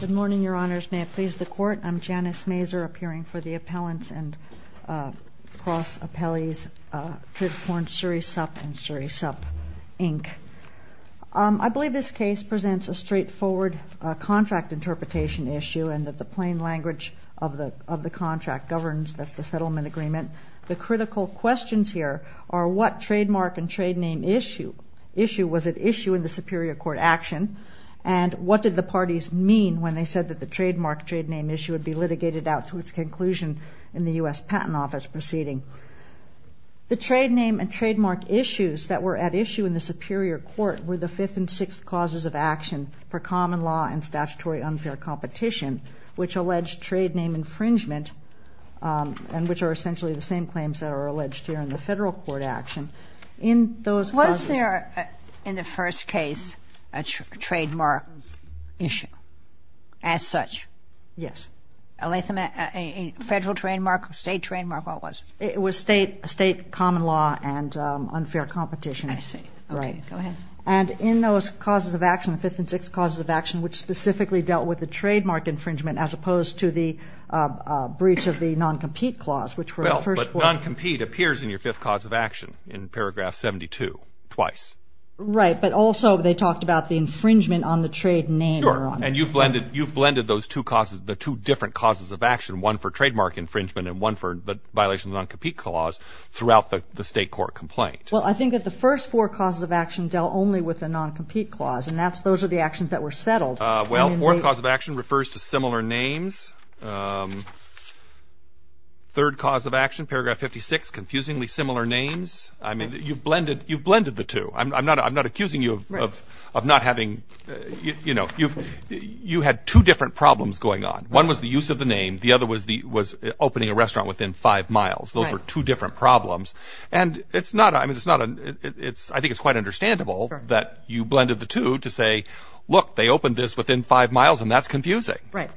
Good morning, Your Honors. May it please the Court. I'm Janice Masur, appearing for the Appellants and Cross-Appellees, Tritaporn Sirisup and Sirisup, Inc. I believe this case presents a straightforward contract interpretation issue and that the plain language of the contract governs the settlement agreement. The critical questions here are what trademark and trade name issue was at issue in the Superior Court action and what did the parties mean when they said that the trademark trade name issue would be litigated out to its conclusion in the U.S. Patent Office proceeding. The trade name and trademark issues that were at issue in the Superior Court were the fifth and sixth causes of action per common law and statutory unfair competition, which alleged trade name infringement and which are essentially the Was there, in the first case, a trademark issue as such? Yes. A federal trademark, state trademark, what was it? It was state common law and unfair competition. I see. Right. Okay. Go ahead. And in those causes of action, the fifth and sixth causes of action, which specifically dealt with the trademark infringement as opposed to the breach of the non-compete clause, which were the first four But non-compete appears in your fifth cause of action in paragraph 72, twice. Right. But also they talked about the infringement on the trade name. Sure. And you've blended those two causes, the two different causes of action, one for trademark infringement and one for the violation of the non-compete clause throughout the state court complaint. Well, I think that the first four causes of action dealt only with the non-compete clause and that's those are the actions that were settled. Well, fourth cause of action refers to similar names. Third cause of action, paragraph 56, confusingly similar names. I mean, you've blended you've blended the two. I'm not I'm not accusing you of not having you know, you've you had two different problems going on. One was the use of the name. The other was the was opening a restaurant within five miles. Those are two different problems. And it's not I mean, it's not it's I think it's quite understandable that you blended the two to say, look, they opened this within five miles and that's confusing. Right.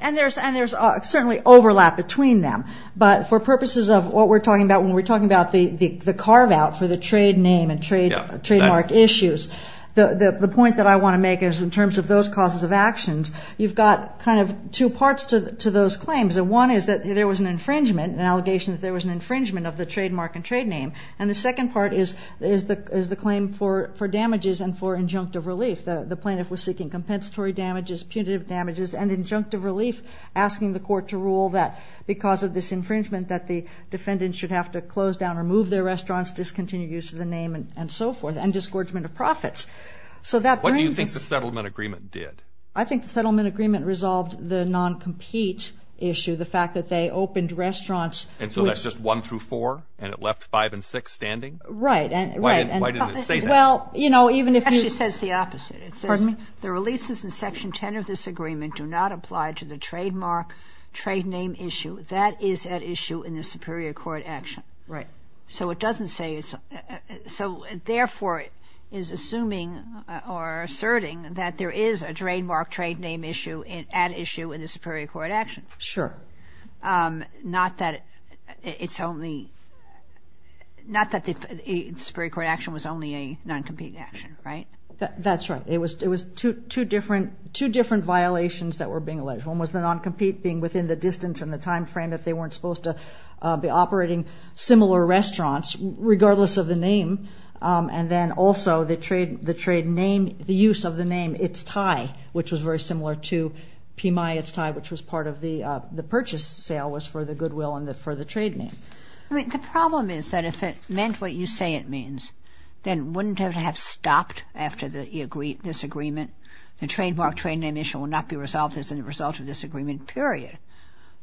And there's and there's certainly overlap between them. But for purposes of what we're talking about, when we're talking about the carve out for the trade name and trademark issues, the point that I want to make is in terms of those causes of actions, you've got kind of two parts to those claims. And one is that there was an infringement, an allegation that there was an infringement of the trademark and trade name. And the second part is the claim for damages and for injunctive relief. The plaintiff was seeking compensatory damages, punitive damages and injunctive relief, asking the court to rule that because of this infringement, that the defendant should have to close down or move their restaurants, discontinue use of the name and so forth and disgorgement of profits. So that what do you think the settlement agreement did? I think the settlement agreement resolved the non-compete issue, the fact that they opened restaurants. And so that's just one through four and it left five and six standing. Right. And why did it say that? Well, you know, even if it says the opposite, it says the releases in Section 10 of this agreement do not apply to the trademark trade name issue that is at issue in the superior court action. Right. So it doesn't say it's so therefore is assuming or asserting that there is a trademark trade name issue at issue in the superior court action. Sure. Not that it's only. Not that the superior court action was only a non-compete action, right? That's right. It was it was two different, two different violations that were being alleged. One was the non-compete being within the distance and the time frame that they weren't supposed to be operating similar restaurants, regardless of the name. And then also the trade, the trade name, the use of the name It's Thai, which was very similar to PMI It's Thai, which was part of the the purchase sale was for the Goodwill and for the trade name. I mean, the problem is that if it meant what you say it means, then wouldn't it have stopped after the agree this agreement? The trademark trade name issue will not be resolved as a result of this agreement, period.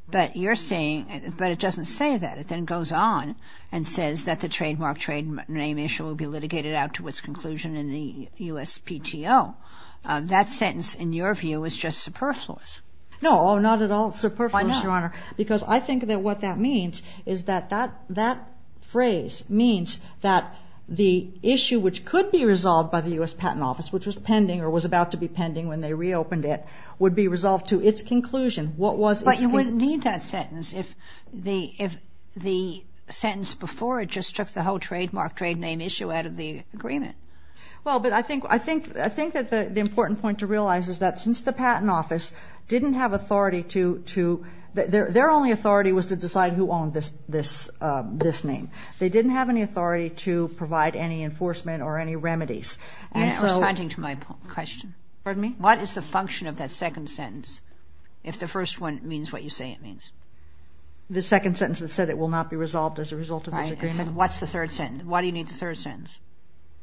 But you're saying but it doesn't say that it then goes on and says that the trademark trade name issue will be litigated out to its conclusion in the USPTO. That sentence, in your view, is just superfluous. No, not at all. Superfluous, Your Honor, because I think that what that means is that that that phrase means that the issue which could be resolved by the U.S. Patent Office, which was pending or was about to be pending when they reopened it, would be resolved to its conclusion. What was it? You wouldn't need that sentence if the if the sentence before it just took the whole trademark trade name issue out of the agreement. Well, but I think I think I think that the important point to realize is that since the their only authority was to decide who owned this this this name, they didn't have any authority to provide any enforcement or any remedies. And so responding to my question, what is the function of that second sentence if the first one means what you say it means? The second sentence that said it will not be resolved as a result of what's the third sentence? Why do you need the third sentence?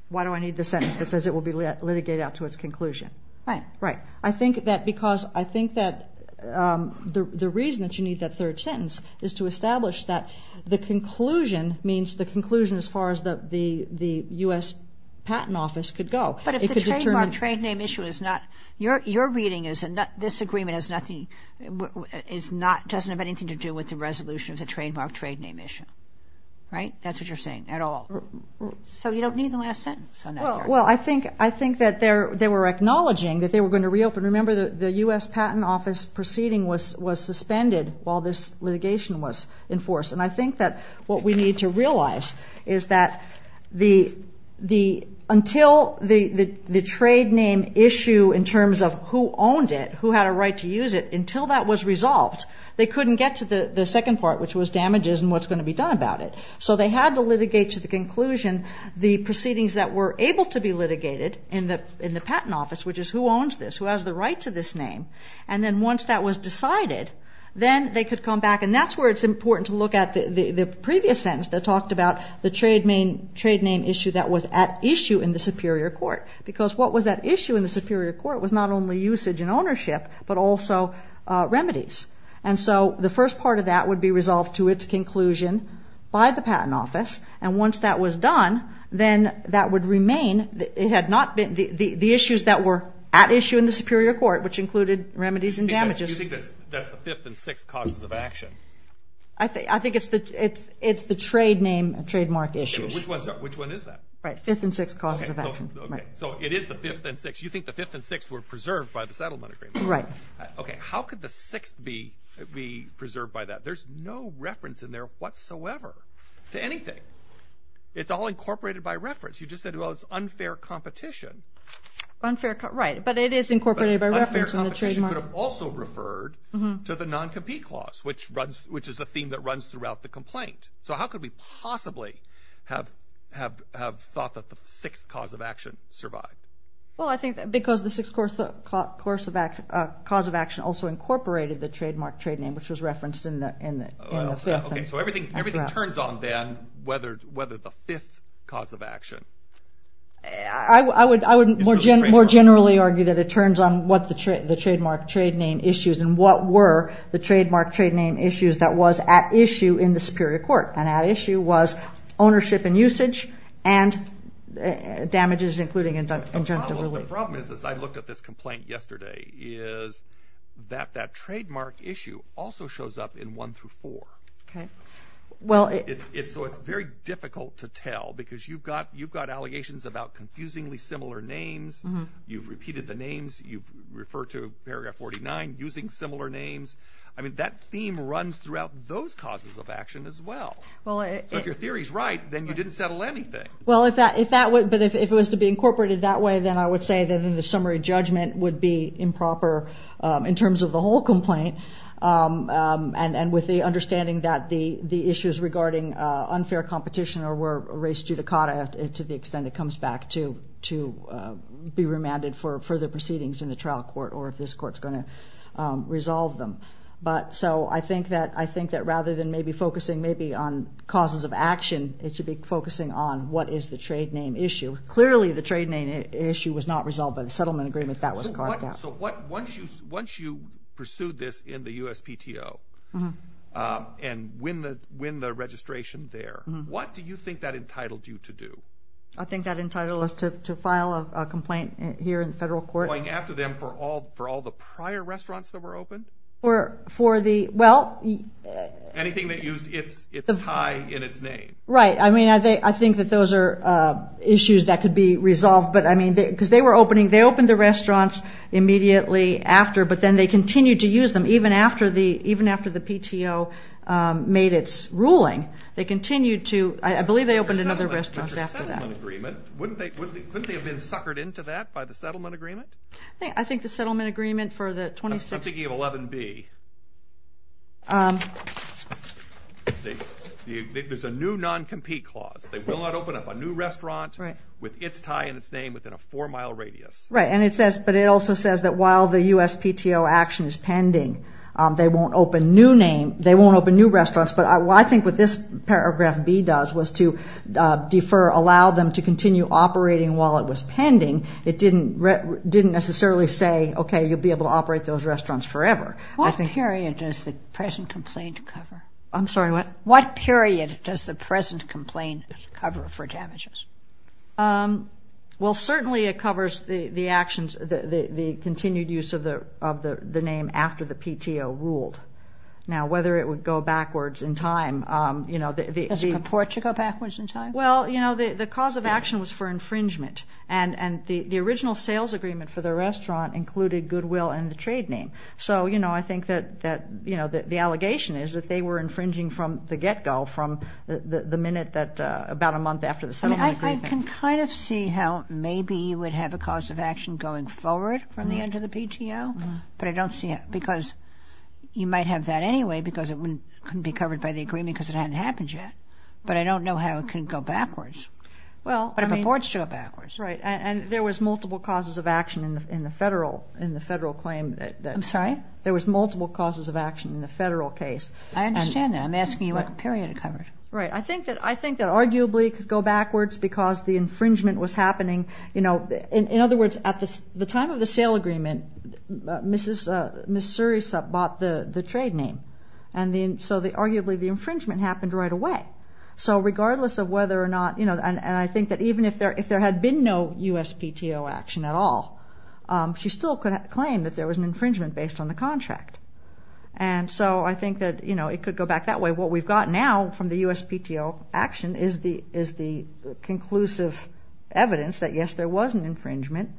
Why do I need the sentence that says it will be litigated out to its conclusion? Right. Right. I think that because I think that the reason that you need that third sentence is to establish that the conclusion means the conclusion as far as the the U.S. Patent Office could go. But if the trademark trade name issue is not your your reading is that this agreement has nothing is not doesn't have anything to do with the resolution of the trademark trade name issue. Right. That's what you're saying at all. So you don't need the last sentence. Well, I think I think that they're they were acknowledging that they were going to reopen. Remember, the U.S. Patent Office proceeding was was suspended while this litigation was enforced. And I think that what we need to realize is that the the until the the trade name issue in terms of who owned it, who had a right to use it until that was resolved, they couldn't get to the second part, which was damages and what's going to be done about it. So they had to litigate to the conclusion. The proceedings that were able to be litigated in the in the patent office, which is who owns this, who has the right to this name. And then once that was decided, then they could come back. And that's where it's important to look at the previous sentence that talked about the trade main trade name issue that was at issue in the Superior Court, because what was that issue in the Superior Court was not only usage and ownership, but also remedies. And so the first part of that would be resolved to its conclusion by the patent office. And once that was done, then that would remain. It had not been the issues that were at issue in the Superior Court, which included remedies and damages. Do you think that's the fifth and sixth causes of action? I think I think it's the it's it's the trade name trademark issues. Which one is that? Right. Fifth and sixth causes of action. So it is the fifth and sixth. You think the fifth and sixth were preserved by the settlement agreement? Right. OK. How could the sixth be be preserved by that? There's no reference in there whatsoever to anything. It's all incorporated by reference. You just said, well, it's unfair competition. Unfair. Right. But it is incorporated by reference. Unfair competition could have also referred to the non-compete clause, which runs which is the theme that runs throughout the complaint. So how could we possibly have have have thought that the sixth cause of action survived? Well, I think because the sixth course of cause of action also incorporated the trademark trade name, which was referenced in the in the in the fifth. So everything everything turns on then whether whether the fifth cause of action. I would I would more generally argue that it turns on what the trade the trademark trade name issues and what were the trademark trade name issues that was at issue in the Superior Court and at issue was ownership and usage and damages, including injunctive relief. The problem is, as I looked at this complaint yesterday, is that that trademark issue also shows up in one through four. OK, well, it's so it's very difficult to tell because you've got you've got allegations about confusingly similar names. You've repeated the names you refer to, paragraph forty nine, using similar names. I mean, that theme runs throughout those causes of action as well. Well, if your theory is right, then you didn't settle anything. Well, if that if that were but if it was to be incorporated that way, then I would say that in the summary judgment would be improper in terms of the whole complaint. And with the understanding that the the issues regarding unfair competition or race judicata to the extent it comes back to to be remanded for further proceedings in the trial court or if this court is going to resolve them. But so I think that I think that rather than maybe focusing maybe on causes of action, it is the trade name issue. Clearly, the trade name issue was not resolved by the settlement agreement that was carved out. So what once you once you pursued this in the USPTO and when the when the registration there, what do you think that entitled you to do? I think that entitled us to file a complaint here in the federal court. Going after them for all for all the prior restaurants that were opened? Or for the well, anything that used its its tie in its name. Right. I mean, I think I think that those are issues that could be resolved. But I mean, because they were opening they opened the restaurants immediately after. But then they continue to use them even after the even after the PTO made its ruling, they continued to I believe they opened another restaurant after that agreement. Wouldn't they wouldn't they have been suckered into that by the settlement agreement? I think the settlement agreement for the 2016. I'm thinking of 11B. There's a new non-compete clause, they will not open up a new restaurant with its tie in its name within a four mile radius. Right. And it says but it also says that while the USPTO action is pending, they won't open new name, they won't open new restaurants. But I think what this paragraph B does was to defer allow them to continue operating while it was pending. It didn't didn't necessarily say, OK, you'll be able to operate those restaurants forever. What period does the present complaint cover? I'm sorry, what? What period does the present complaint cover for damages? Well, certainly it covers the actions, the continued use of the of the name after the PTO ruled. Now, whether it would go backwards in time, you know, the report to go backwards in time. Well, you know, the cause of action was for infringement. And the original sales agreement for the restaurant included Goodwill and the trade name. So, you know, I think that that, you know, the allegation is that they were infringing from the get go from the minute that about a month after the settlement. I can kind of see how maybe you would have a cause of action going forward from the end of the PTO. But I don't see it because you might have that anyway, because it wouldn't be covered by the agreement because it hadn't happened yet. But I don't know how it can go backwards. Well, but it purports to go backwards. Right. And there was multiple causes of action in the federal in the federal claim. I'm sorry. There was multiple causes of action in the federal case. I understand that. I'm asking you what period it covered. Right. I think that I think that arguably could go backwards because the infringement was happening. You know, in other words, at the time of the sale agreement, Mrs. Missouri bought the trade name. And then so the arguably the infringement happened right away. So regardless of whether or not you know, and I think that even if there if there had been no USPTO action at all, she still could claim that there was an infringement based on the contract. And so I think that, you know, it could go back that way. What we've got now from the USPTO action is the is the conclusive evidence that, yes, there was an infringement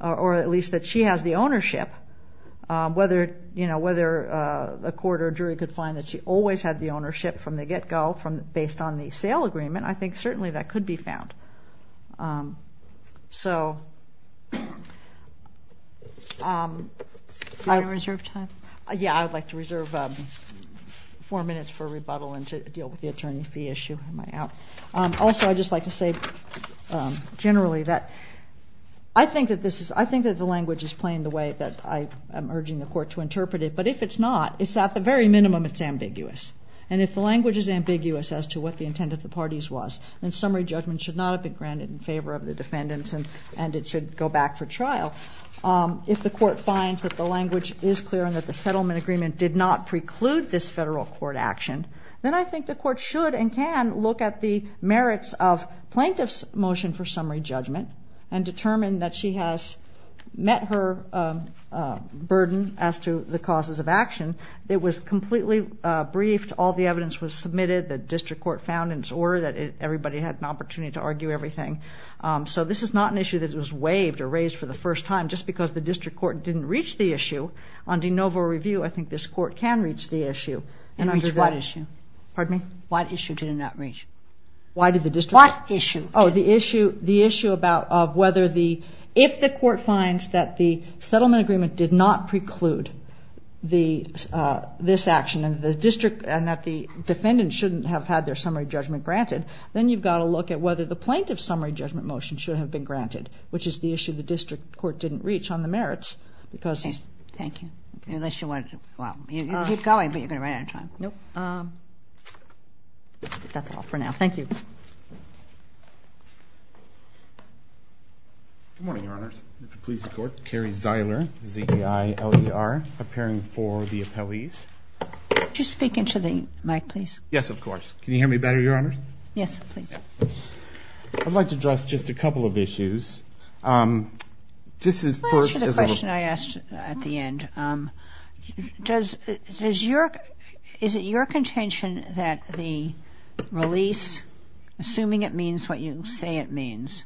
or at least that she has the ownership, whether you know, whether a court or jury could find that she always had the ownership from the get go from based on the sale agreement. I think certainly that could be found. So. I reserve time. Yeah, I would like to reserve four minutes for rebuttal and to deal with the attorney fee issue. Am I out? Also, I'd just like to say generally that I think that this is I think that the language is playing the way that I am urging the court to interpret it. But if it's not, it's at the very minimum, it's ambiguous. And if the language is ambiguous as to what the intent of the parties was, then summary judgment should not have been granted in favor of the defendants and it should go back for trial. If the court finds that the language is clear and that the settlement agreement did not preclude this federal court action, then I think the court should and can look at the merits of plaintiff's motion for summary judgment and determine that she has met her burden as to the causes of action. It was completely briefed. All the evidence was submitted. The district court found in its order that everybody had an opportunity to argue everything. So this is not an issue that was waived or raised for the first time just because the district court didn't reach the issue. On de novo review, I think this court can reach the issue. And reach what issue? Pardon me? What issue did it not reach? Why did the district? What issue? Oh, the issue about whether the, if the court finds that the settlement agreement did not preclude this action and that the defendant shouldn't have had their summary judgment granted, then you've got to look at whether the plaintiff's summary judgment motion should have been granted, which is the issue the district court didn't reach on the merits because. Thank you. Unless you wanted to, well, you can keep going, but you're going to run out of time. Nope. That's all for now. Thank you. Good morning, your Honor. Police court, Kerry Ziler Z-I-L-E-R, preparing for the appellees. Could you speak into the mic, please? Yes, of course. Can you hear me better, your Honor? Yes, please. I'd like to address just a couple of issues. Um, just as first. The question I asked at the end, um, does, is your, is it your contention that the release assuming it means what you, say it means,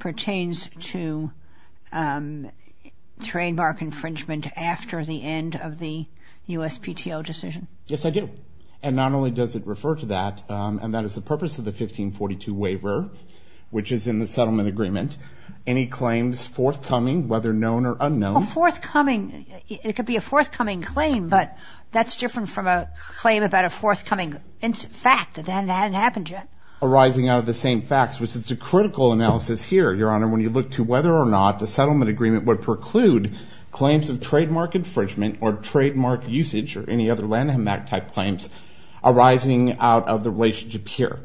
pertains to, um, trademark infringement after the end of the USPTO decision? Yes, I do. And not only does it refer to that, um, and that is the purpose of the 1542 waiver, which is in the settlement agreement. Any claims forthcoming, whether known or unknown. A forthcoming, it could be a forthcoming claim, but that's different from a claim about a forthcoming fact that hadn't happened yet. Arising out of the same facts, which it's a critical analysis here, your Honor. When you look to whether or not the settlement agreement would preclude claims of trademark infringement or trademark usage or any other landmark type claims arising out of the relationship here,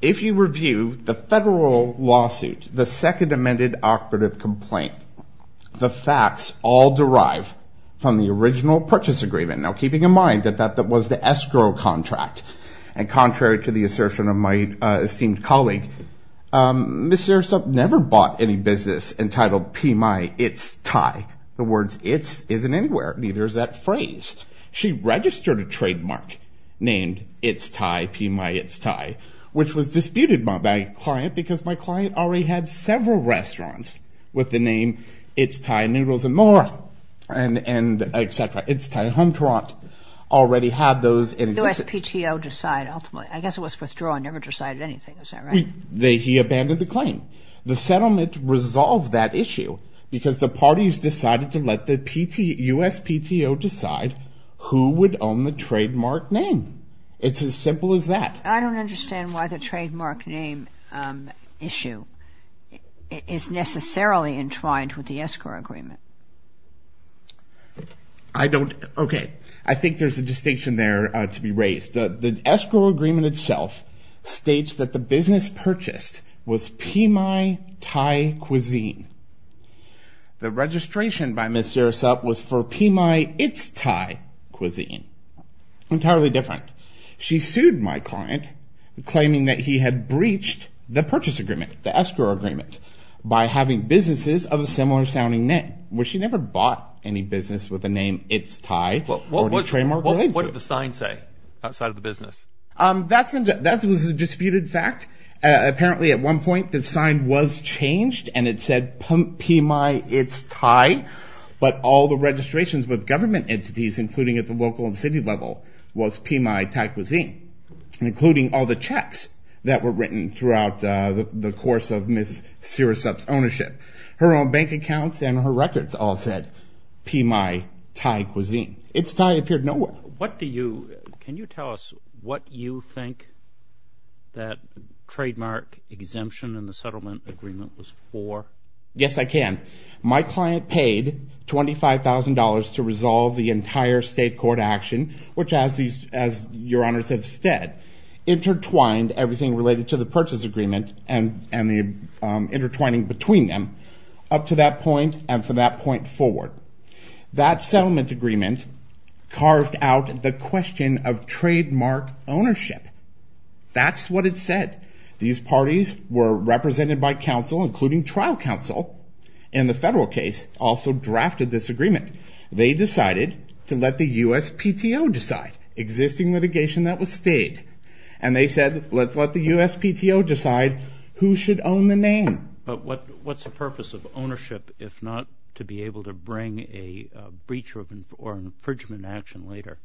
if you review the federal lawsuit, the second amended operative complaint, the facts all derive from the original purchase agreement. Now, keeping in mind that that, that was the escrow contract and contrary to the assertion of my esteemed colleague, um, Ms. Sirisup never bought any business entitled PMI It's Thai. The words it's isn't anywhere. Neither is that phrase. She registered a trademark named It's Thai, PMI It's Thai, which was disputed by my client because my client already had several restaurants with the name It's Thai noodles and more and, and et cetera. It's Thai home. Toronto already had those. And it was PTO decide. Ultimately, I guess it was withdrawn. Never decided anything. Is that right? They, he abandoned the claim. The settlement resolved that issue because the parties decided to let the PT US PTO decide who would own the trademark name. It's as simple as that. I don't understand why the trademark name, um, issue. It is necessarily in trying to, with the escrow agreement. I don't. Okay. I think there's a distinction there to be raised. The escrow agreement itself states that the business purchased was PMI Thai cuisine. The registration by Ms. Sirisup was for PMI It's Thai cuisine. Entirely different. She sued my client claiming that he had breached the purchase agreement. The escrow agreement by having businesses of a similar sounding name, where she never bought any business with the name. It's Thai trademark. Well, what did the sign say outside of the business? Um, that's, that was a disputed fact. Uh, apparently at one point the sign was changed and it said PMI It's Thai, but all the registrations with government entities, including at the local and city level was PMI Thai cuisine, including all the checks that were written throughout, uh, the, the course of Ms. Sirisup's ownership, her own bank accounts and her records all said PMI Thai cuisine. It's Thai appeared nowhere. What do you, can you tell us what you think that trademark exemption in the settlement agreement was for? Yes, I can. My client paid $25,000 to resolve the entire state court action, which as these, as your honors have said, intertwined everything related to the purchase agreement. And, and the, um, intertwining between them up to that point. And from that point forward, that settlement agreement carved out the question of trademark ownership. That's what it said. These parties were represented by counsel, including trial counsel in the federal case also drafted this agreement. They decided to let the USPTO decide existing litigation that was stayed. And they said, let's let the USPTO decide who should own the name. But what, what's the purpose of ownership, if not to be able to bring a breach or infringement action later?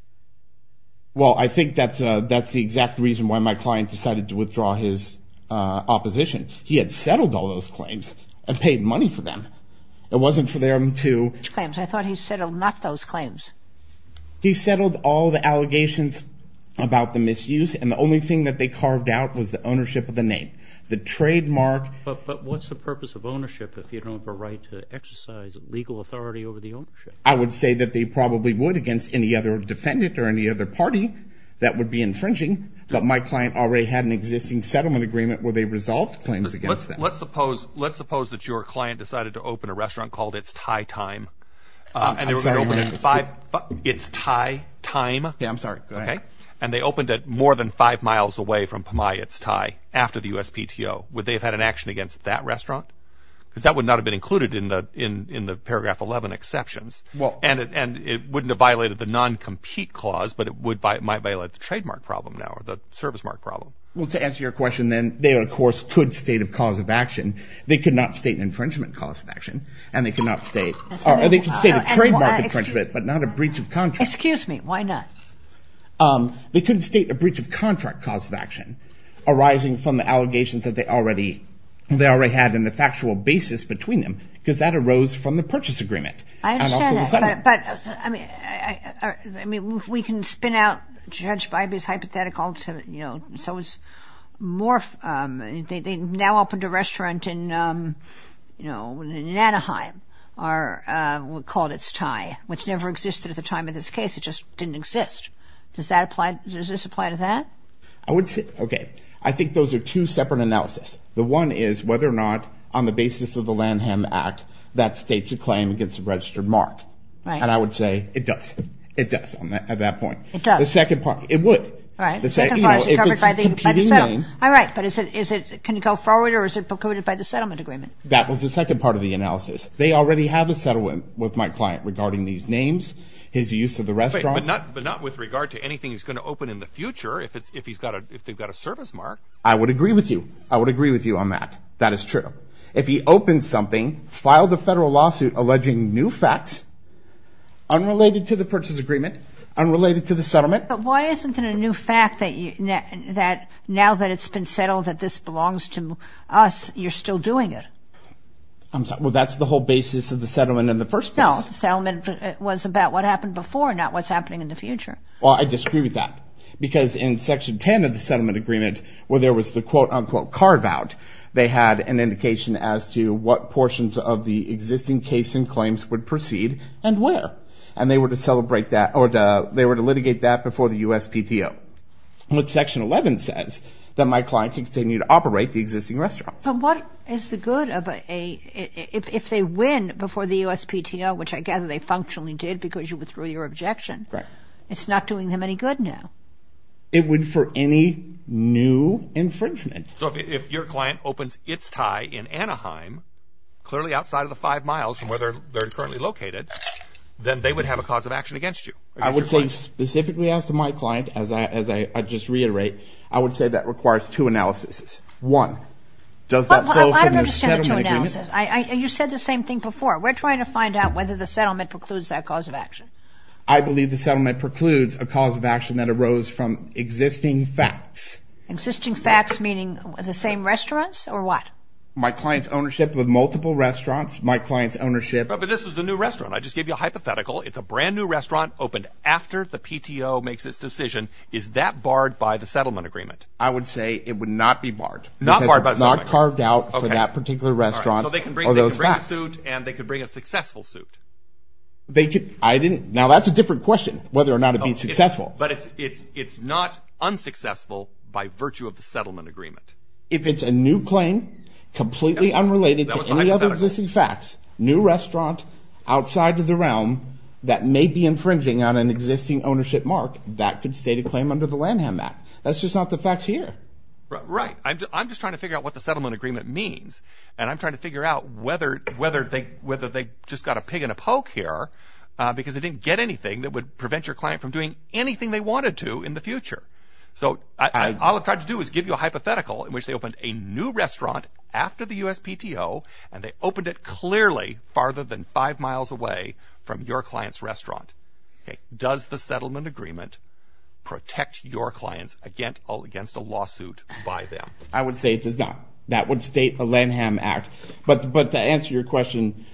Well, I think that's a, that's the exact reason why my client decided to withdraw his, uh, opposition. He had settled all those claims and paid money for them. It wasn't for them to. I thought he settled not those claims. He settled all the allegations about the misuse. And the only thing that they carved out was the ownership of the name, the trademark. But, but what's the purpose of ownership if you don't have a right to exercise legal authority over the ownership? I would say that they probably would against any other defendant or any other party that would be infringing. But my client already had an existing settlement agreement where they resolved claims against that. Let's suppose, let's suppose that your client decided to open a restaurant called It's Thai Time. And they were going to open it five, It's Thai Time. Yeah, I'm sorry. Okay. And they opened it more than five miles away from Pamay It's Thai, after the USPTO. Would they have had an action against that restaurant? Because that would not have been included in the, in, in the paragraph 11 exceptions. Well. And it, and it wouldn't have violated the non-compete clause, but it would, might violate the trademark problem now, or the service mark problem. Well, to answer your question, then they, of course, could state a cause of action. They could not state an infringement cause of action. And they could not state, or they could state a trademark infringement, but not a breach of contract. Excuse me. Why not? They couldn't state a breach of contract cause of action arising from the allegations that they already, they already had in the factual basis between them. Because that arose from the purchase agreement. I understand that, but, but I mean, I, I mean, we can spin out Judge Bybee's hypothetical to, you know, so it's more, they now opened a restaurant in, you know, in Anaheim, or we'll call it its tie, which never existed at the time of this case. It just didn't exist. Does that apply? Does this apply to that? I would say, okay. I think those are two separate analysis. The one is whether or not on the basis of the Lanham Act, that states a claim against a registered mark. Right. And I would say it does. It does on that, at that point. It does. The second part, it would. Right. The second part is covered by the, by the settlement. All right. But is it, is it, can it go forward or is it precluded by the settlement agreement? That was the second part of the analysis. They already have a settlement with my client regarding these names, his use of the restaurant. But not, but not with regard to anything he's going to open in the future. If it's, if he's got a, if they've got a service mark. I would agree with you. I would agree with you on that. That is true. If he opened something, filed a federal lawsuit, alleging new facts, unrelated to the purchase agreement, unrelated to the settlement. But why isn't it a new fact that you, that now that it's been settled, that this belongs to us, you're still doing it? I'm sorry. Well, that's the whole basis of the settlement in the first place. No, the settlement was about what happened before, not what's happening in the future. Well, I disagree with that because in section 10 of the settlement agreement, where there was the quote unquote carve out, they had an indication as to what portions of the existing case and claims would proceed and where. And they were to celebrate that or the, they were to litigate that before the USPTO. What section 11 says that my client can continue to operate the existing restaurant. So what is the good of a, if they win before the USPTO, which I gather they functionally did because you withdrew your objection. It's not doing them any good now. It would for any new infringement. So if your client opens its tie in Anaheim, clearly outside of the five miles from where they're currently located, then they would have a cause of action against you. I would say specifically as to my client, as I, as I just reiterate, I would say that requires two analyses. One, does that flow from the settlement agreement? I, you said the same thing before. We're trying to find out whether the settlement precludes that cause of action. I believe the settlement precludes a cause of action that arose from existing facts. Existing facts, meaning the same restaurants or what? My client's ownership of multiple restaurants, my client's ownership. But this is the new restaurant. I just gave you a hypothetical. It's a brand new restaurant opened after the PTO makes its decision. Is that barred by the settlement agreement? I would say it would not be barred, not barred, but not carved out for that particular restaurant. So they can bring a suit and they could bring a successful suit. They could. I didn't. Now, that's a different question, whether or not it'd be successful. But it's it's it's not unsuccessful by virtue of the settlement agreement. If it's a new claim completely unrelated to any other existing facts, new restaurant outside of the realm that may be infringing on an existing ownership mark, that could state a claim under the Lanham Act. That's just not the facts here. Right. I'm just trying to figure out what the settlement agreement means. And I'm trying to figure out whether whether they whether they just got a pig in a poke here because they didn't get anything that would prevent your client from doing anything they wanted to in the future. So I'll try to do is give you a hypothetical in which they opened a new restaurant after the USPTO and they opened it clearly farther than five miles away from your client's restaurant. Does the settlement agreement protect your clients against all against a lawsuit by them? I would say it does not. That would state a Lanham Act. But but to answer your question,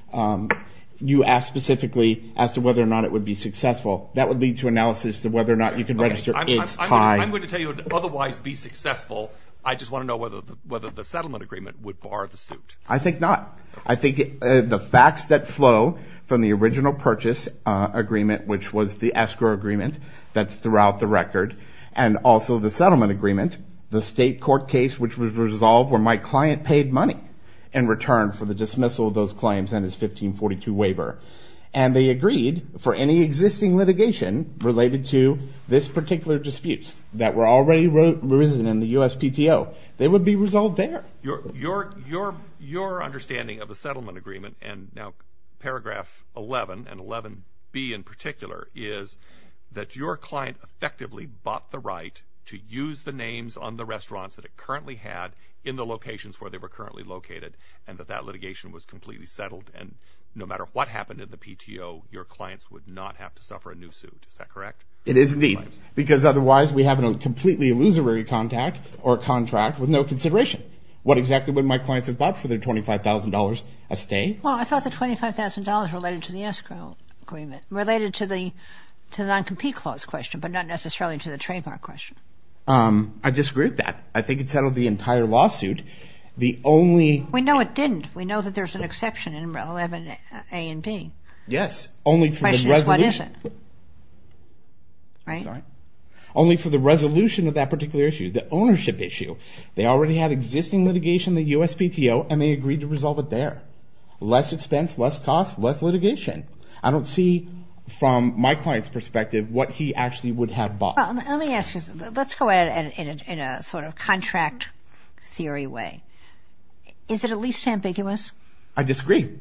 you asked specifically as to whether or not it would be successful. That would lead to analysis of whether or not you can register. I'm going to tell you otherwise be successful. I just want to know whether whether the settlement agreement would bar the suit. I think not. I think the facts that flow from the original purchase agreement, which was the escrow agreement that's throughout the record and also the settlement agreement, the state court case which was resolved where my client paid money in return for the dismissal of those claims and his 1542 waiver. And they agreed for any existing litigation related to this particular disputes that were already written in the USPTO, they would be resolved there. Your your your your understanding of the settlement agreement and now paragraph 11 and 11 B in particular is that your client effectively bought the right to use the names on the restaurants that it currently had in the locations where they were currently located and that that litigation was completely settled. And no matter what happened in the PTO, your clients would not have to suffer a new suit. Is that correct? It is indeed, because otherwise we have a completely illusory contact or contract with no consideration. What exactly would my clients have bought for their twenty five thousand dollars a stay? Well, I thought the twenty five thousand dollars related to the escrow agreement related to the to the noncompete clause question, but not necessarily to the trademark question. I disagree with that. I think it's out of the entire lawsuit. The only we know it didn't. We know that there's an exception in 11 A and B. Yes. Only for what is it? Right, sorry. Only for the resolution of that particular issue, the ownership issue. They already have existing litigation, the USPTO, and they agreed to resolve it. They're less expense, less cost, less litigation. I don't see from my client's perspective what he actually would have bought. Let me ask you, let's go at it in a sort of contract theory way. Is it at least ambiguous? I disagree.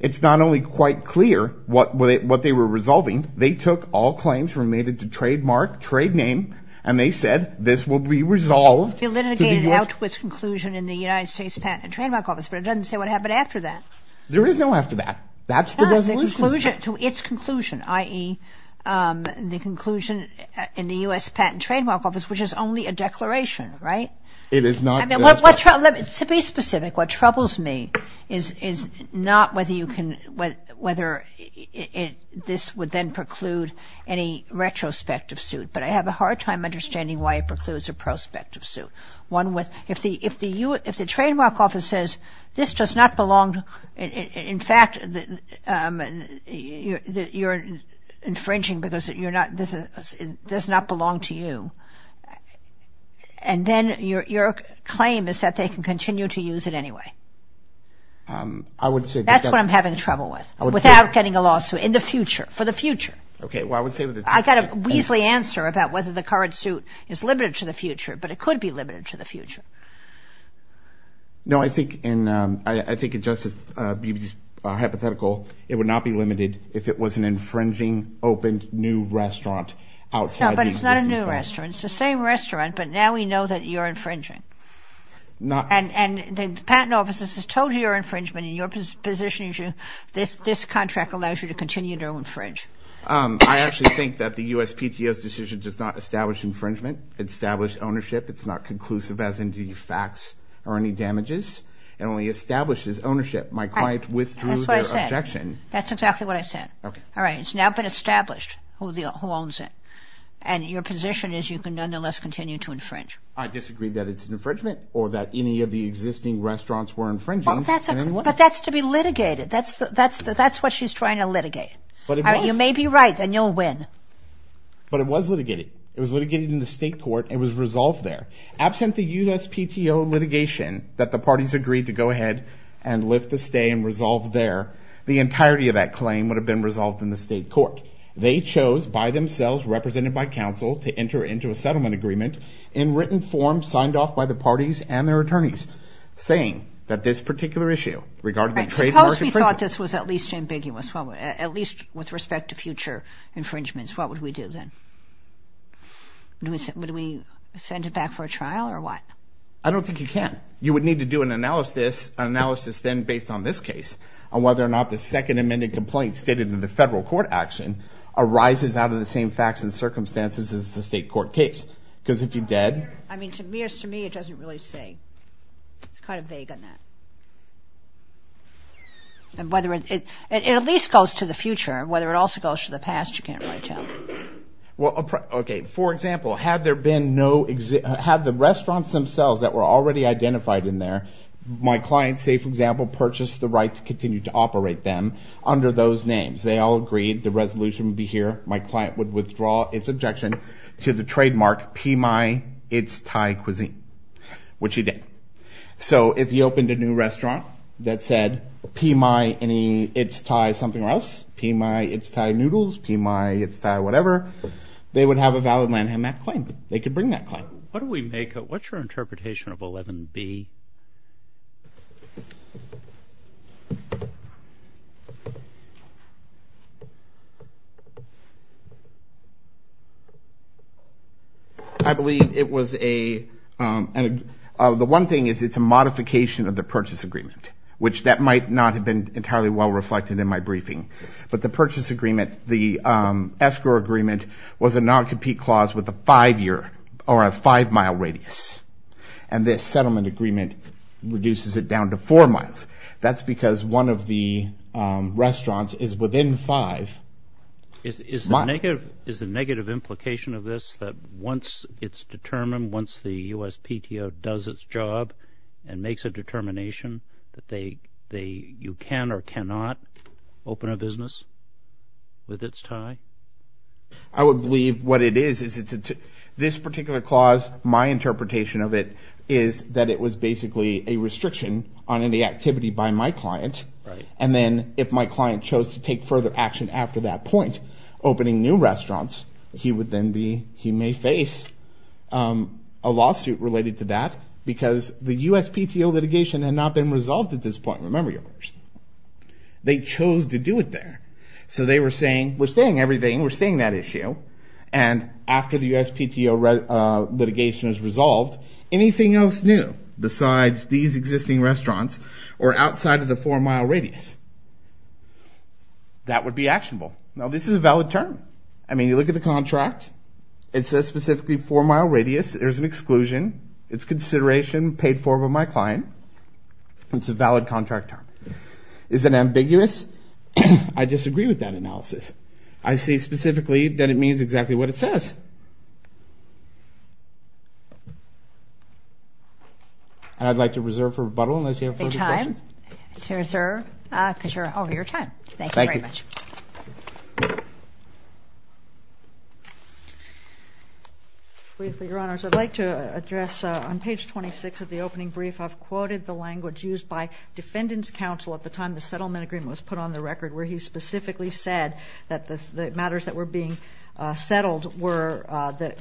It's not only quite clear what what they were resolving. They took all claims related to trademark trade name, and they said this will be resolved. They litigated it out to its conclusion in the United States Patent and Trademark Office, but it doesn't say what happened after that. There is no after that. That's the resolution. No, the conclusion to its conclusion, i.e., the conclusion in the US Patent and Trademark Office, which is only a declaration, right? It is not. I mean, let me be specific. What troubles me is not whether you can, whether this would then preclude any retrospective suit. But I have a hard time understanding why it precludes a prospective suit. One with, if the, if the US, if the Trademark Office says this does not belong, in fact, that you're infringing because you're not, this does not belong to you. And then your claim is that they can continue to use it anyway. I would say. That's what I'm having trouble with, without getting a lawsuit in the future, for the future. Okay. I got a weaselly answer about whether the current suit is limited to the future, but it could be limited to the future. No, I think, and I think it just is hypothetical. It would not be limited if it was an infringing, opened new restaurant outside. But it's not a new restaurant. It's the same restaurant. But now we know that you're infringing. Not. And the Patent Office has told you you're infringement in your position, this contract allows you to continue to infringe. I actually think that the USPTS decision does not establish infringement, establish ownership. It's not conclusive, as in do you fax or any damages and only establishes ownership. My client withdrew their objection. That's exactly what I said. Okay. All right. It's now been established who the, who owns it. And your position is you can nonetheless continue to infringe. I disagree that it's an infringement or that any of the existing restaurants were infringing. But that's to be litigated. That's the, that's the, that's what she's trying to litigate. But you may be right and you'll win. But it was litigated. It was litigated in the state court. It was resolved there. Absent the USPTO litigation that the parties agreed to go ahead and lift the stay and resolve there. The entirety of that claim would have been resolved in the state court. They chose by themselves, represented by counsel to enter into a settlement agreement in written form, signed off by the parties and their attorneys saying that this particular issue regarding the trade. Suppose we thought this was at least ambiguous, at least with respect to future infringements. What would we do then? Would we send it back for a trial or what? I don't think you can. You would need to do an analysis, an analysis then based on this case on whether or not the second amended complaint stated in the federal court action arises out of the same facts and circumstances as the state court case. Because if you did. I mean, to me, it doesn't really say it's kind of vague on that. And whether it at least goes to the future, whether it also goes to the past, you can't really tell. Well, OK. For example, have there been no, have the restaurants themselves that were already identified in there, my client, say, for example, purchased the right to continue to operate them under those names. They all agreed the resolution would be here. My client would withdraw its objection to the trademark PMI, it's Thai cuisine, which he did. So if you opened a new restaurant that said PMI, any, it's Thai something or else, PMI, it's Thai noodles, PMI, it's Thai whatever, they would have a valid Lanham Act claim. They could bring that claim. What do we make of, what's your interpretation of 11B? I believe it was a, the one thing is it's a modification of the purchase agreement, which that might not have been entirely well reflected in my briefing. But the purchase agreement, the escrow agreement was a non-compete clause with a five year or a five mile radius. And this settlement agreement reduces it down to four miles. That's because one of the restaurants is within five. Is the negative, is the negative implication of this that once it's determined, once the USPTO does its job and makes a determination that they, they, you can or cannot open a business with its Thai? I would believe what it is, is it's a, this particular clause, my interpretation of it is that it was basically a restriction on any activity by my client. And then if my client chose to take further action after that point, opening new restaurants, he would then be, he may face a lawsuit related to that because the USPTO litigation had not been resolved at this point. Remember your question. They chose to do it there. So they were saying, we're saying everything, we're saying that issue. And after the USPTO litigation is resolved, anything else new besides these existing restaurants or outside of the four mile radius, that would be actionable. Now, this is a valid term. I mean, you look at the contract, it says specifically four mile radius, there's an exclusion. It's consideration paid for by my client. It's a valid contract term. Is it ambiguous? I disagree with that analysis. I see specifically that it means exactly what it says. And I'd like to reserve for rebuttal unless you have further questions. Any time to reserve, because you're over your time. Thank you very much. Briefly, Your Honors, I'd like to address on page 26 of the opening brief, I've quoted the language used by Defendant's Counsel at the time the settlement agreement was put on the record where he specifically said that the matters that were being settled were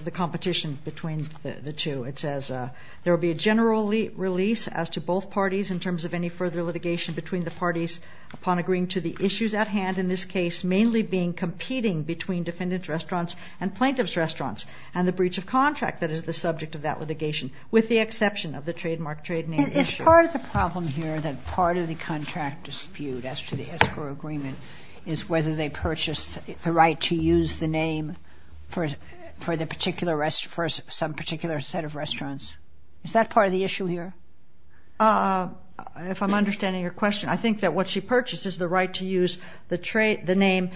the competition between the two. It says, there will be a general release as to both parties in terms of any further litigation between the parties upon agreeing to the issues at hand. In this case, mainly being competing between defendant's restaurants and plaintiff's restaurants and the breach of contract that is the subject of that litigation. With the exception of the trademark trade name issue. Is part of the problem here that part of the contract dispute as to the escrow agreement is whether they purchased the right to use the name for the particular rest, for some particular set of restaurants? Is that part of the issue here? If I'm understanding your question, I think that what she purchased is the right to use the trade, the name,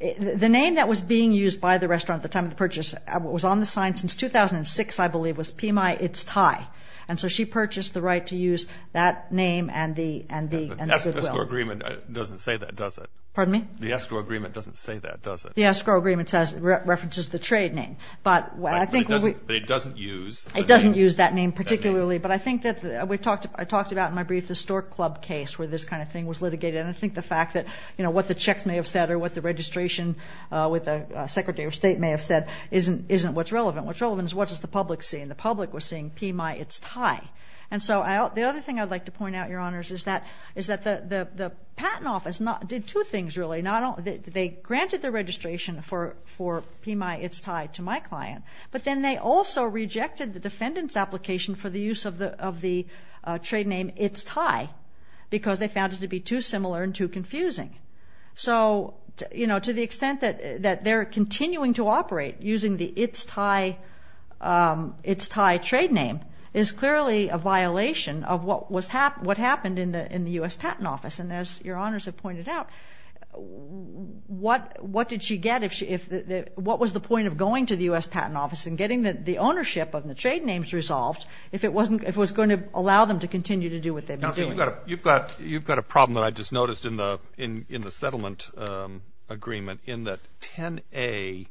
the name that was being used by the restaurant at the time of the purchase was on the sign since 2006, I believe was PMI. It's Thai. And so she purchased the right to use that name and the, and the agreement doesn't say that, does it? Pardon me? The escrow agreement doesn't say that, does it? The escrow agreement says references the trade name, but I think it doesn't use, it doesn't use that name particularly. But I think that we talked, I talked about in my brief, the store club case where this kind of thing was litigated. And I think the fact that, you know, what the checks may have said or what the registration with the secretary of state may have said isn't, isn't what's relevant. What's relevant is what does the public see? And the public was seeing PMI, it's Thai. And so I, the other thing I'd like to point out, your honors, is that, is that the, the, the patent office not, did two things really. Not only, they granted the registration for, for PMI, it's Thai to my client, but then they also rejected the defendant's application for the use of the, of the trade name, it's Thai, because they found it to be too similar and too confusing. So, you know, to the extent that, that they're continuing to operate using the, it's Thai, it's Thai trade name is clearly a violation of what was hap, what happened in the, in the U.S. patent office. And as your honors have pointed out, what, what did she get if she, if the, the, what was the point of going to the U.S. patent office and getting the, the ownership of the trade names resolved if it wasn't, if it was going to allow them to continue to do what they've been doing? I don't think we've got a, you've got, you've got a problem that I just noticed in the, in, in the settlement agreement in that 10A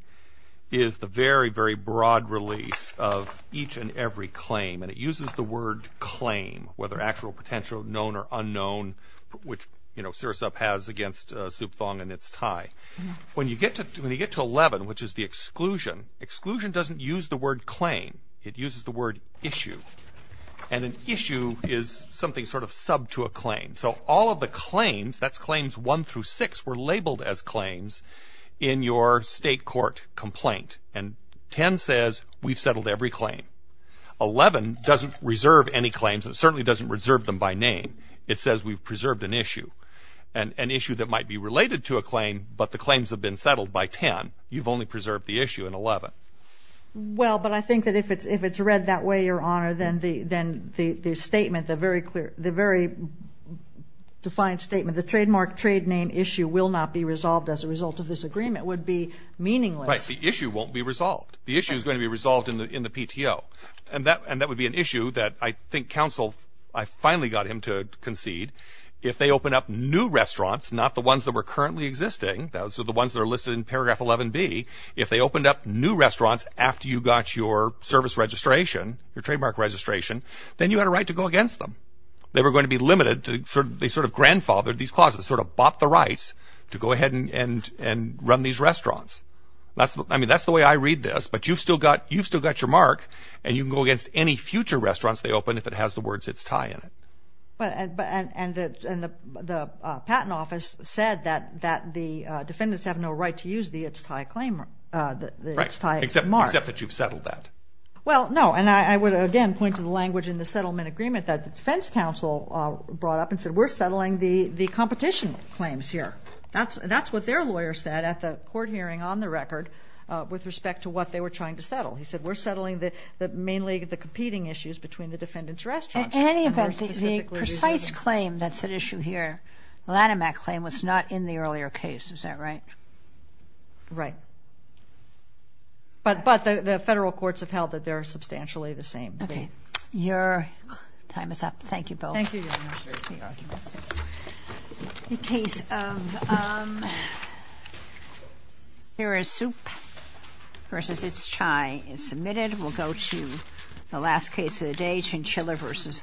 is the very, very broad release of each and every claim. And it uses the word claim, whether actual, potential, known, or unknown, which, you know, SIRASAP has against Supthong and it's Thai. When you get to, when you get to 11, which is the exclusion, exclusion doesn't use the word claim, it uses the word issue. And an issue is something sort of sub to a claim. So all of the claims, that's claims one through six, were labeled as claims in your state court complaint. And 10 says we've settled every claim. 11 doesn't reserve any claims, and it certainly doesn't reserve them by name. It says we've preserved an issue, an, an issue that might be related to a claim, but the claims have been settled by 10. You've only preserved the issue in 11. Well, but I think that if it's, if it's read that way, Your Honor, then the, then the, the statement, the very clear, the very defined statement, the trademark trade name issue will not be resolved as a result of this agreement would be meaningless. Right, the issue won't be resolved. The issue is going to be resolved in the, in the PTO. And that, and that would be an issue that I think counsel, I finally got him to concede. If they open up new restaurants, not the ones that were currently existing, those are the ones that are listed in paragraph 11B. If they opened up new restaurants after you got your service registration, your trademark registration, then you had a right to go against them. They were going to be limited to sort of, they sort of grandfathered these clauses, sort of bought the rights to go ahead and, and, and run these restaurants. That's, I mean, that's the way I read this, but you've still got, you've still got your mark. And you can go against any future restaurants they open if it has the words it's tie in it. But, but, and, and the, and the, the patent office said that, that the defendants have no right to use the it's tie claim, the it's tie mark. Right, except, except that you've settled that. Well, no, and I, I would again point to the language in the settlement agreement that the defense counsel brought up and said we're settling the, the competition claims here. That's, that's what their lawyer said at the court hearing on the record with respect to what they were trying to settle. He said we're settling the, the mainly the competing issues between the defendant's restaurants. In any event, the precise claim that's at issue here, the Lanham Act claim was not in the earlier case, is that right? Right. But, but the, the federal courts have held that they're substantially the same. Okay. Your time is up. Thank you both. Thank you. In case of, here is soup versus it's chai is submitted. We'll go to the last case of the day, Chinchilla versus.